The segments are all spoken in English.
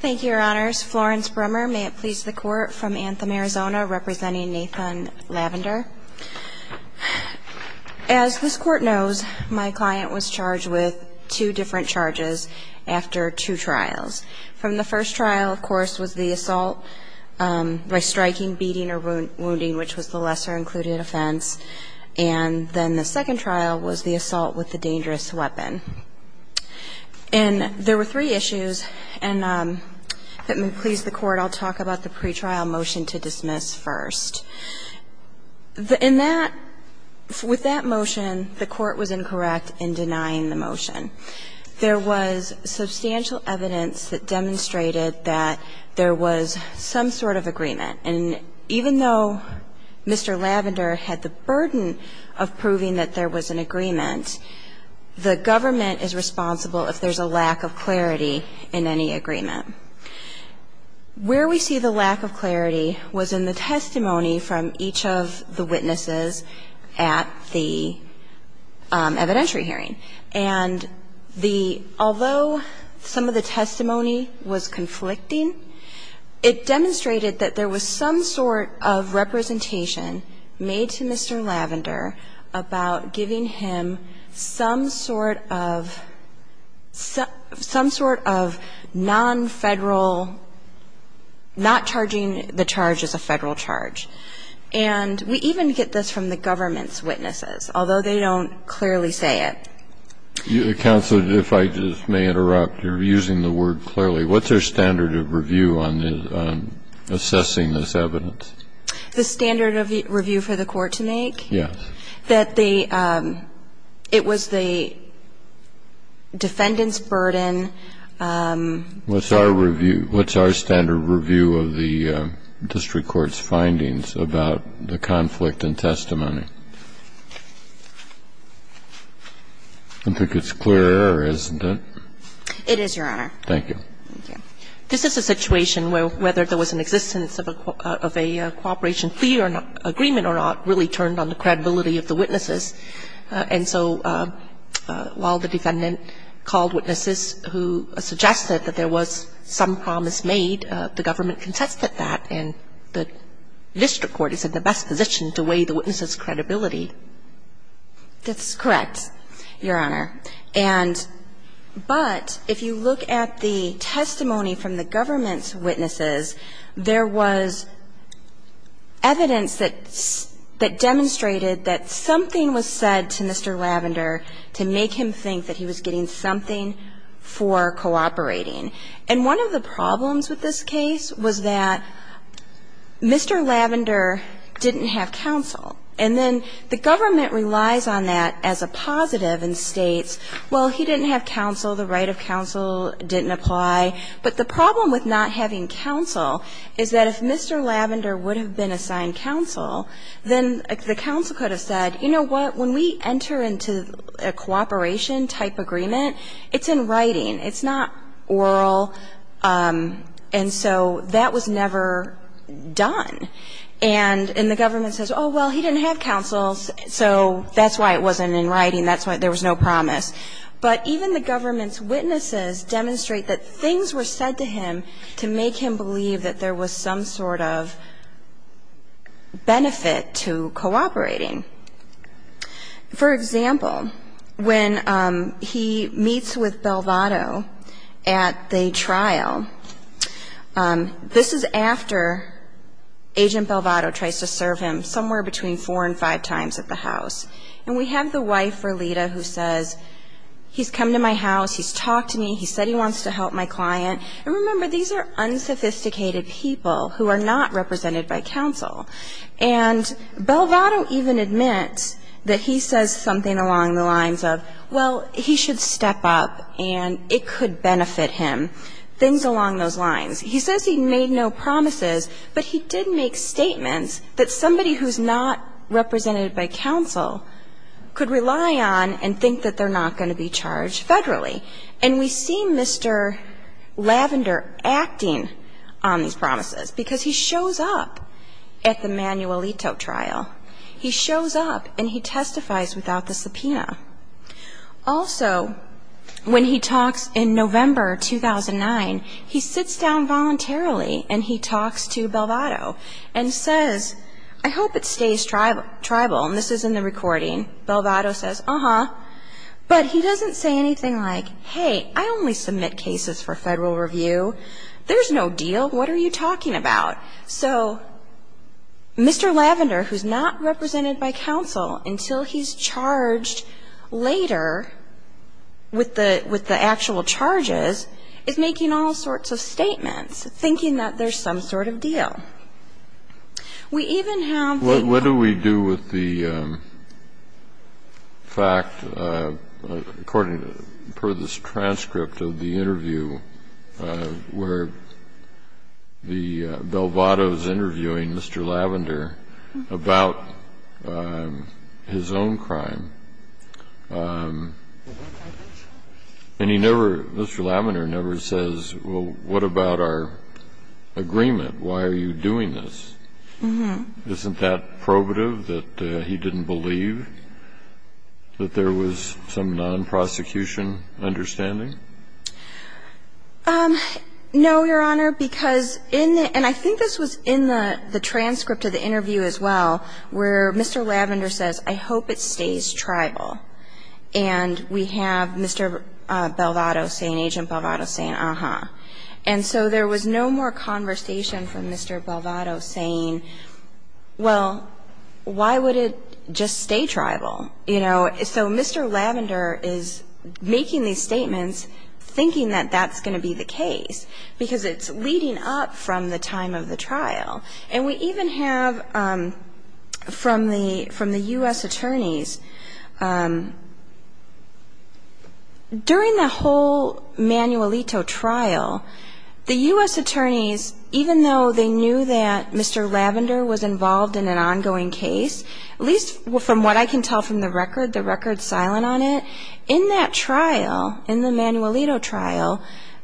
Thank you, your honors. Florence Brummer, may it please the court, from Anthem, Arizona, representing Nathan Lavender. As this court knows, my client was charged with two different charges after two trials. From the first trial, of course, was the assault by striking, beating, or wounding, which was the lesser included offense. And then the second trial was the assault with the dangerous weapon. And there were three issues, and if it would please the court, I'll talk about the pretrial motion to dismiss first. In that, with that motion, the court was incorrect in denying the motion. There was substantial evidence that demonstrated that there was some sort of agreement. And even though Mr. Lavender had the burden of proving that there was an agreement, the government is responsible if there's a lack of clarity in any agreement. Where we see the lack of clarity was in the testimony from each of the witnesses at the evidentiary hearing. And the – although some of the testimony was conflicting, it demonstrated that there was some sort of representation made to Mr. Lavender about giving him some sort of – some sort of non-Federal, not charging the charge as a Federal charge. And we even get this from the government's witnesses, although they don't clearly say it. The counsel, if I just may interrupt, you're using the word clearly. What's their standard of review on assessing this evidence? The standard of review for the court to make? Yes. That the – it was the defendant's burden. What's our review? What's our standard review of the district court's findings about the conflict in testimony? I don't think it's clear, or isn't it? It is, Your Honor. Thank you. This is a situation where whether there was an existence of a cooperation fee or not – agreement or not really turned on the credibility of the witnesses. And so while the defendant called witnesses who suggested that there was some promise made, the government contested that, and the district court is in the best position to weigh the witnesses' credibility. That's correct, Your Honor. And – but if you look at the testimony from the government's witnesses, there was evidence that demonstrated that something was said to Mr. Lavender to make him think that he was getting something for cooperating. And one of the problems with this case was that Mr. Lavender didn't have counsel. And then the counsel The government relies on that as a positive and states, well, he didn't have counsel, the right of counsel didn't apply. But the problem with not having counsel is that if Mr. Lavender would have been assigned counsel, then the counsel could have said, you know what, when we enter into a cooperation-type agreement, it's in writing. It's not oral. And so that was never done. And the government says, oh, well, he didn't have counsel, so that's why it wasn't in writing. That's why there was no promise. But even the government's witnesses demonstrate that things were said to him to make him believe that there was some sort of benefit to cooperating. For example, when he meets with Belvato at the trial, this is after Agent Belvato tries to serve him somewhere between four and five times at the house. And we have the wife, Rolita, who says, he's come to my house, he's talked to me, he said he wants to help my client. And remember, these are unsophisticated people who are not represented by counsel. And Belvato even admits that he says something along the lines of, well, he should step up and it could benefit him, things along those lines. He says he made no promises, but he did make statements that somebody who's not represented by counsel could rely on and think that they're not going to be charged federally. And we see Mr. Lavender acting on these promises because he shows up at the Manuelito trial. He shows up and he testifies without the subpoena. Also, when he talks in November 2009, he sits down voluntarily and he talks to Belvato and says, I hope it stays tribal. And this is in the recording. Belvato says, uh-huh. But he doesn't say anything like, hey, I only submit cases for federal review. There's no deal. What are you talking about? So Mr. Lavender, who's not represented by counsel until he's charged later with the actual charges, is making all sorts of statements, thinking that there's some sort of deal. We even have the lawyer's testimony. And what's interesting is that when Belvato is interviewing Mr. Lavender about his own crime, and he never – Mr. Lavender never says, well, what about our agreement? Why are you doing this? Isn't that probative that he didn't believe that there was some non-prosecution understanding? No, Your Honor, because in the – and I think this was in the transcript of the interview as well, where Mr. Lavender says, I hope it stays tribal. And we have Mr. Belvato saying – Agent Belvato saying, uh-huh. And so there was no more conversation from Mr. Belvato saying, well, why would it just stay tribal? So Mr. Lavender is making these statements thinking that that's going to be the case, because it's leading up from the time of the trial. And we even have from the U.S. attorneys – during the whole Manuelito trial, the U.S. attorneys, even though they knew that Mr. Lavender was involved in an ongoing case, at least from what I can tell from the record, the record's silent on it. In that trial, in the Manuelito trial,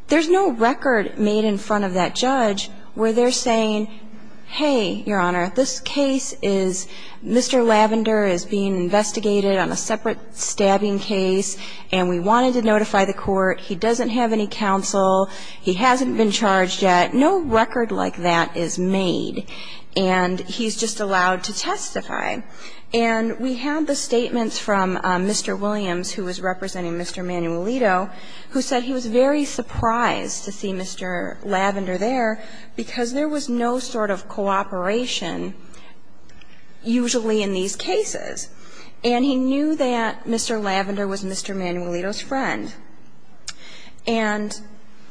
there's no record made in front of that judge where they're saying, hey, Your Honor, this case is – Mr. Lavender is being investigated on a separate stabbing case, and we wanted to notify the court. He doesn't have any counsel. He hasn't been charged yet. No record like that is made. And he's just allowed to testify. And we have the statements from Mr. Williams, who was representing Mr. Manuelito, who said he was very surprised to see Mr. Lavender there, because there was no sort of cooperation usually in these cases. And he knew that Mr. Lavender was Mr. Manuelito's friend. And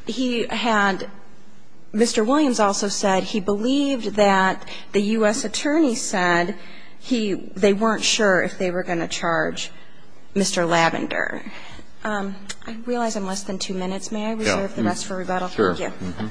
he had – Mr. Williams also said he believed that the U.S. attorney said he was – they weren't sure if they were going to charge Mr. Lavender. I realize I'm less than two minutes. May I reserve the rest for rebuttal? Sure. Thank you. Mm-hmm.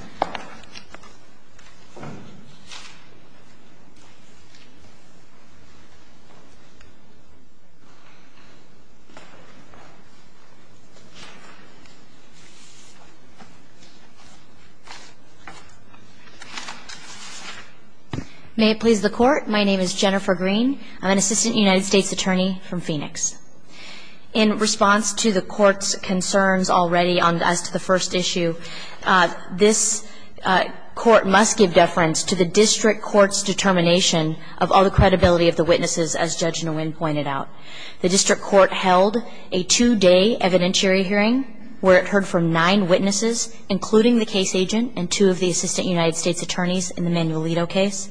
May it please the Court. My name is Jennifer Green. I'm an assistant United States attorney from Phoenix. In response to the Court's concerns already on – as to the first issue, this Court must give deference to the district court's determination of all the credibility of the witnesses, as Judge Nguyen pointed out. The district court held a two-day evidentiary hearing where it heard from nine witnesses, including the case agent and two of the assistant United States attorneys in the Manuelito case.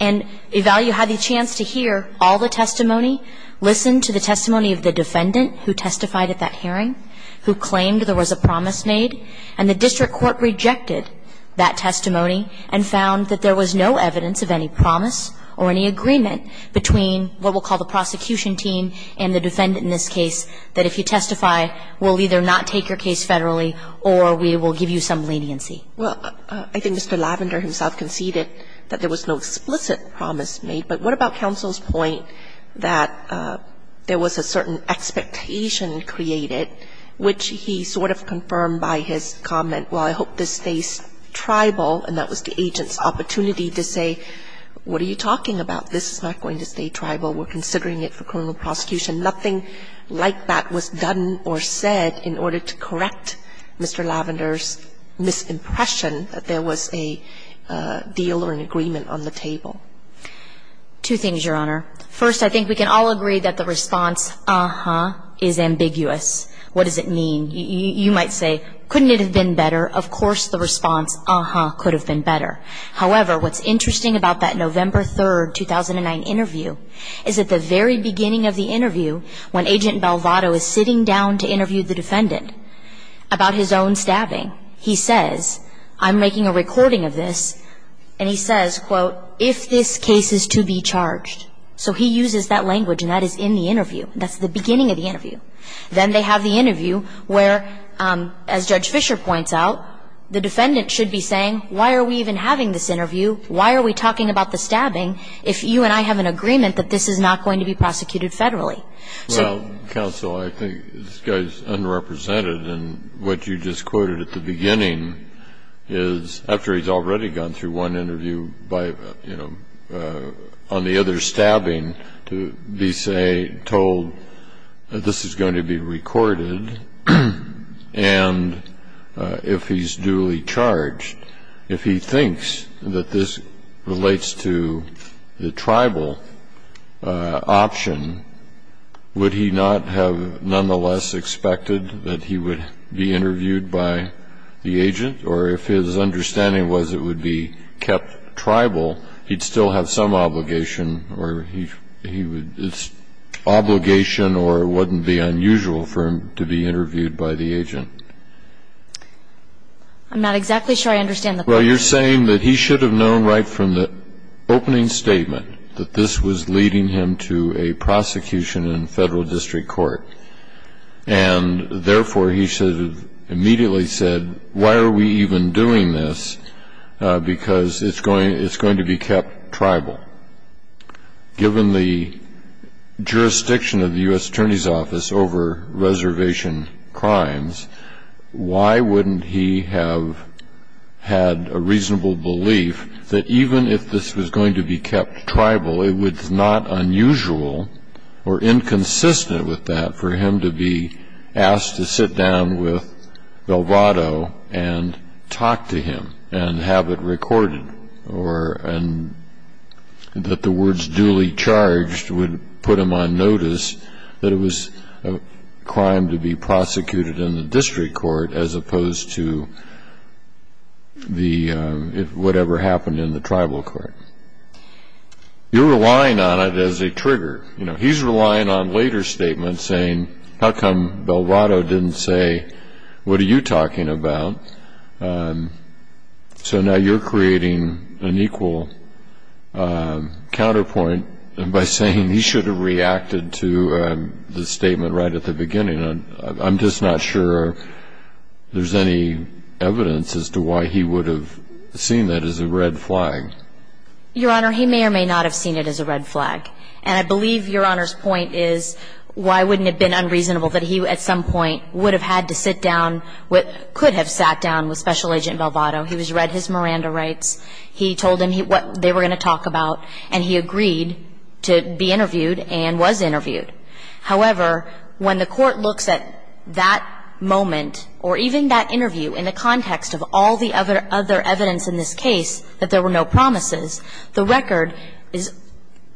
And Evalu had the chance to hear all the testimony, listen to the testimony of the defendant who testified at that hearing, who claimed there was a promise made. And the district court rejected that testimony and found that there was no evidence of any promise or any agreement between what we'll call the prosecution team and the defendant in this case, that if you testify, we'll either not take your case federally or we will give you some leniency. Well, I think Mr. Lavender himself conceded that there was no explicit promise made. But what about counsel's point that there was a certain expectation created, which he sort of confirmed by his comment, well, I hope this stays tribal, and that was the agent's opportunity to say, what are you talking about? This is not going to stay tribal. We're considering it for criminal prosecution. Nothing like that was done or said in order to correct Mr. Lavender's misimpression that there was a deal or an agreement on the table. Two things, Your Honor. First, I think we can all agree that the response, uh-huh, is ambiguous. What does it mean? You might say, couldn't it have been better? Of course, the response, uh-huh, could have been better. However, what's interesting about that November 3, 2009 interview is at the very beginning of the interview, when Agent Belvado is sitting down to interview the defendant about his own stabbing, he says, I'm making a recording of this, and he says, quote, if this case is to be charged. So he uses that language, and that is in the interview. That's the beginning of the interview. Then they have the interview where, as Judge Fischer points out, the defendant should be saying, why are we even having this interview? Why are we talking about the stabbing if you and I have an agreement that this is not going to be prosecuted federally? So you can't just say, well, counsel, I think this guy's unrepresented. And what you just quoted at the beginning is, after he's already gone through one interview by, you know, on the other stabbing, to be, say, told this is going to be recorded, and if he's duly charged, if he thinks that this relates to the tribal option, would he not have nonetheless expected that he would be interviewed by the agent? Or if his understanding was it would be kept tribal, he'd still have some obligation or he would be, it's obligation or it wouldn't be unusual for him to be interviewed by the agent. I'm not exactly sure I understand the point. Well, you're saying that he should have known right from the opening statement that this was leading him to a prosecution in federal district court. And therefore, he should have immediately said, why are we even doing this? Because it's going to be kept tribal. Given the jurisdiction of the U.S. Attorney's Office over reservation crimes, why wouldn't he have had a reasonable belief that even if this was going to be kept tribal, it was not unusual or inconsistent with that for him to be asked to sit down with Velvado and talk to him and have it recorded, or that the words duly charged would put him on notice that it was a crime to be prosecuted in the district court as opposed to whatever happened in the tribal court. You're relying on it as a trigger. He's relying on later statements saying, how come Velvado didn't say, what are you talking about? So now you're creating an equal counterpoint by saying he should have reacted to the statement right at the beginning. I'm just not sure there's any evidence as to why he would have seen that as a red flag. Your Honor, he may or may not have seen it as a red flag. And I believe Your Honor's point is, why wouldn't it have been unreasonable that he, at some point, would have had to sit down with, could have sat down with Special Agent Velvado. He was read his Miranda rights. He told him what they were going to talk about. And he agreed to be interviewed and was interviewed. However, when the court looks at that moment or even that interview in the context of all the other evidence in this case that there were no promises, the record is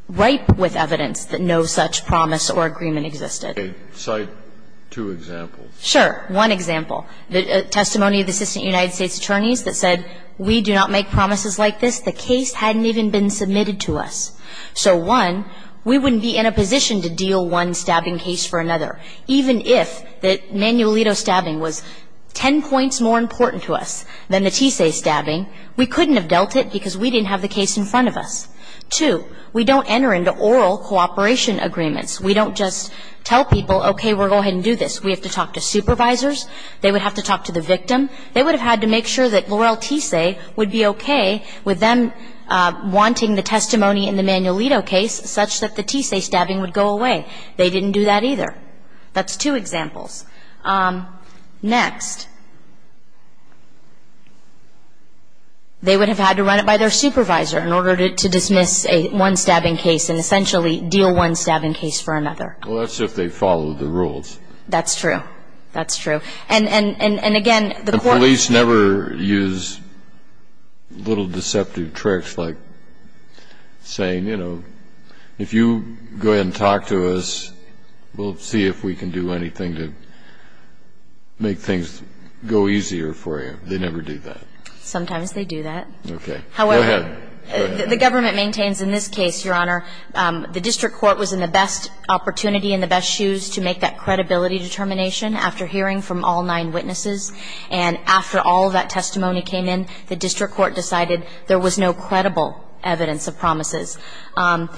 ripe with evidence that no such promise or agreement existed. Okay. Cite two examples. Sure. One example. The testimony of the Assistant United States Attorneys that said, we do not make promises like this. The case hadn't even been submitted to us. So, one, we wouldn't be in a position to deal one stabbing case for another. Even if the Manuelito stabbing was ten points more important to us than the TSAE stabbing, we couldn't have dealt it because we didn't have the case in front of us. Two, we don't enter into oral cooperation agreements. We don't just tell people, okay, we're going to go ahead and do this. We have to talk to supervisors. They would have to talk to the victim. They would have had to make sure that L'Oreal TSAE would be okay with them wanting the testimony in the Manuelito case such that the TSAE stabbing would go away. They didn't do that either. That's two examples. Next, they would have had to run it by their supervisor in order to dismiss one stabbing case and essentially deal one stabbing case for another. Well, that's if they followed the rules. That's true. That's true. And, again, the court — I don't know, you know, when you talk to a witness, you don't really have to be a witness to make sure that they're not going to say, you know, if you go ahead and talk to us, we'll see if we can do anything to make things go easier for you. They never do that. Sometimes they do that. Go ahead. However, the government maintains in this case, Your Honor, the district court was in the best opportunity in the best shoes to make that credibility determination after hearing from all nine witnesses. And after all of that testimony came in, the district court decided there was no credible evidence of promises. My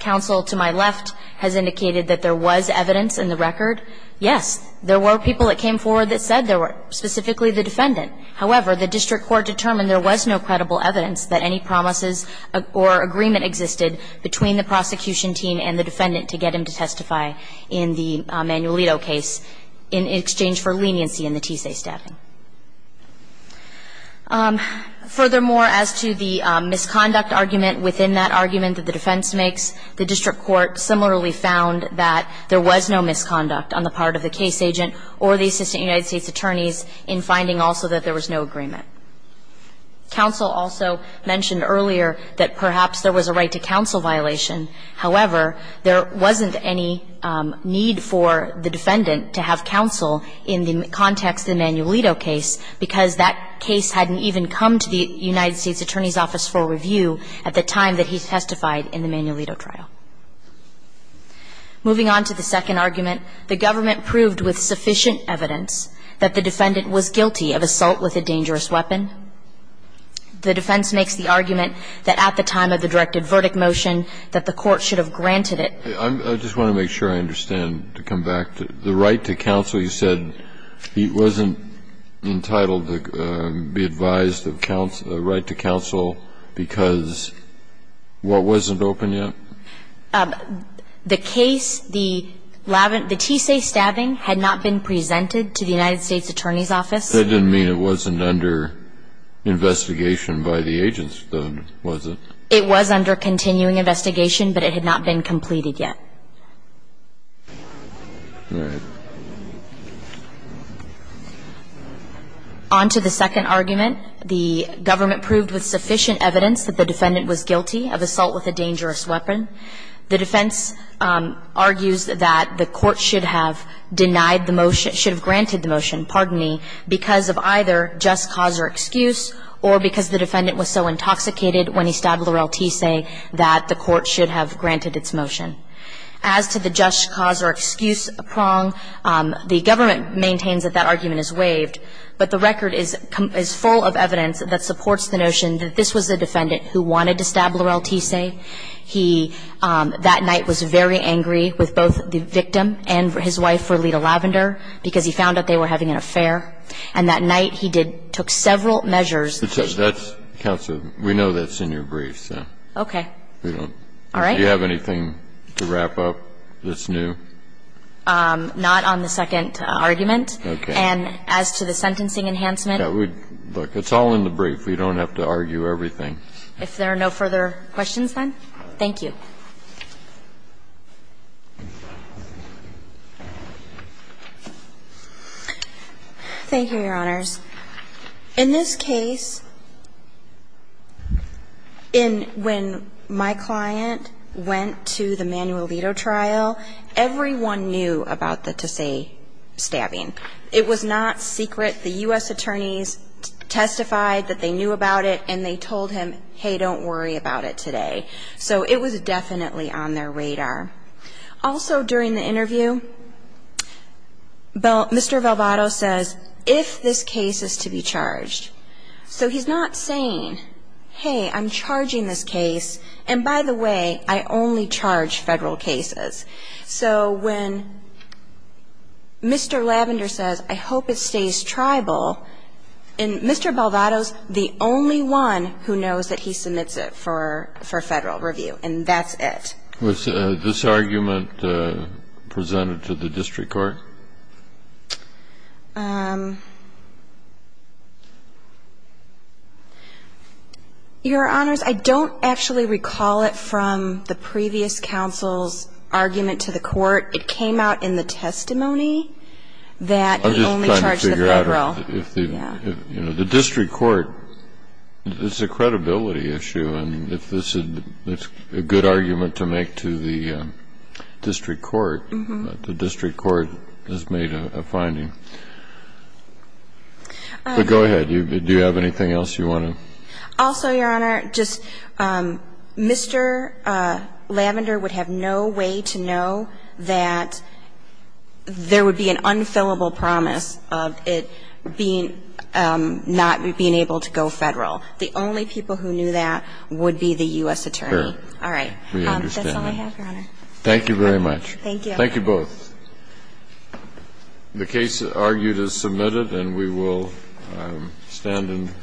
counsel to my left has indicated that there was evidence in the record. Yes, there were people that came forward that said there were, specifically the defendant. However, the district court determined there was no credible evidence that any promises or agreement existed between the prosecution team and the defendant to get him to testify in the Manuelito case. In exchange for leniency in the TSA staffing. Furthermore, as to the misconduct argument within that argument that the defense makes, the district court similarly found that there was no misconduct on the part of the case agent or the assistant United States attorneys in finding also that there was no agreement. Counsel also mentioned earlier that perhaps there was a right to counsel violation. However, there wasn't any need for the defendant to have counsel in the context of the Manuelito case because that case hadn't even come to the United States Attorney's Office for review at the time that he testified in the Manuelito trial. Moving on to the second argument, the government proved with sufficient evidence that the defendant was guilty of assault with a dangerous weapon. The defense makes the argument that at the time of the directed verdict motion that the court should have granted it. I just want to make sure I understand to come back to the right to counsel. You said he wasn't entitled to be advised of a right to counsel because what wasn't open yet? The case, the TSA staffing had not been presented to the United States Attorney's Office. That didn't mean it wasn't under investigation by the agents, was it? It was under continuing investigation, but it had not been completed yet. All right. On to the second argument, the government proved with sufficient evidence that the defendant was guilty of assault with a dangerous weapon. The defense argues that the court should have denied the motion, should have granted the motion, pardon me, because of either just cause or excuse or because the defendant was so intoxicated when he stabbed Laurel TSA that the court should have granted its motion. As to the just cause or excuse prong, the government maintains that that argument is waived. But the record is full of evidence that supports the notion that this was the defendant who wanted to stab Laurel TSA. He, that night, was very angry with both the victim and his wife for Leta Lavender because he found out they were having an affair. And that night, he did – took several measures. That's – counsel, we know that's in your brief, so. Okay. We don't. All right. Do you have anything to wrap up that's new? Not on the second argument. Okay. And as to the sentencing enhancement. Yeah, we – look, it's all in the brief. We don't have to argue everything. If there are no further questions, then, thank you. Thank you, Your Honors. In this case, in – when my client went to the manual veto trial, everyone knew about the TSA stabbing. It was not secret. The U.S. attorneys testified that they knew about it, and they told him, hey, don't worry about it today. So it was definitely on their radar. Also, during the interview, Mr. Valvado says, if this case is to be charged. So he's not saying, hey, I'm charging this case, and by the way, I only charge federal cases. So when Mr. Lavender says, I hope it stays tribal, and Mr. Valvado's the only one who knows that he submits it for federal review, and that's it. Was this argument presented to the district court? Your Honors, I don't actually recall it from the previous counsel's argument to the court. It came out in the testimony that he only charged the federal. I'm just trying to figure out if the – you know, the district court – it's a credibility issue, and if this is a good argument to make to the district court. But the district court has made a finding. But go ahead. Do you have anything else you want to? Also, Your Honor, just Mr. Lavender would have no way to know that there would be an unfillable promise of it being – not being able to go federal. The only people who knew that would be the U.S. attorney. Fair. All right. We understand that. That's all I have, Your Honor. Thank you very much. Thank you. Thank you both. The case argued is submitted, and we will stand and recess.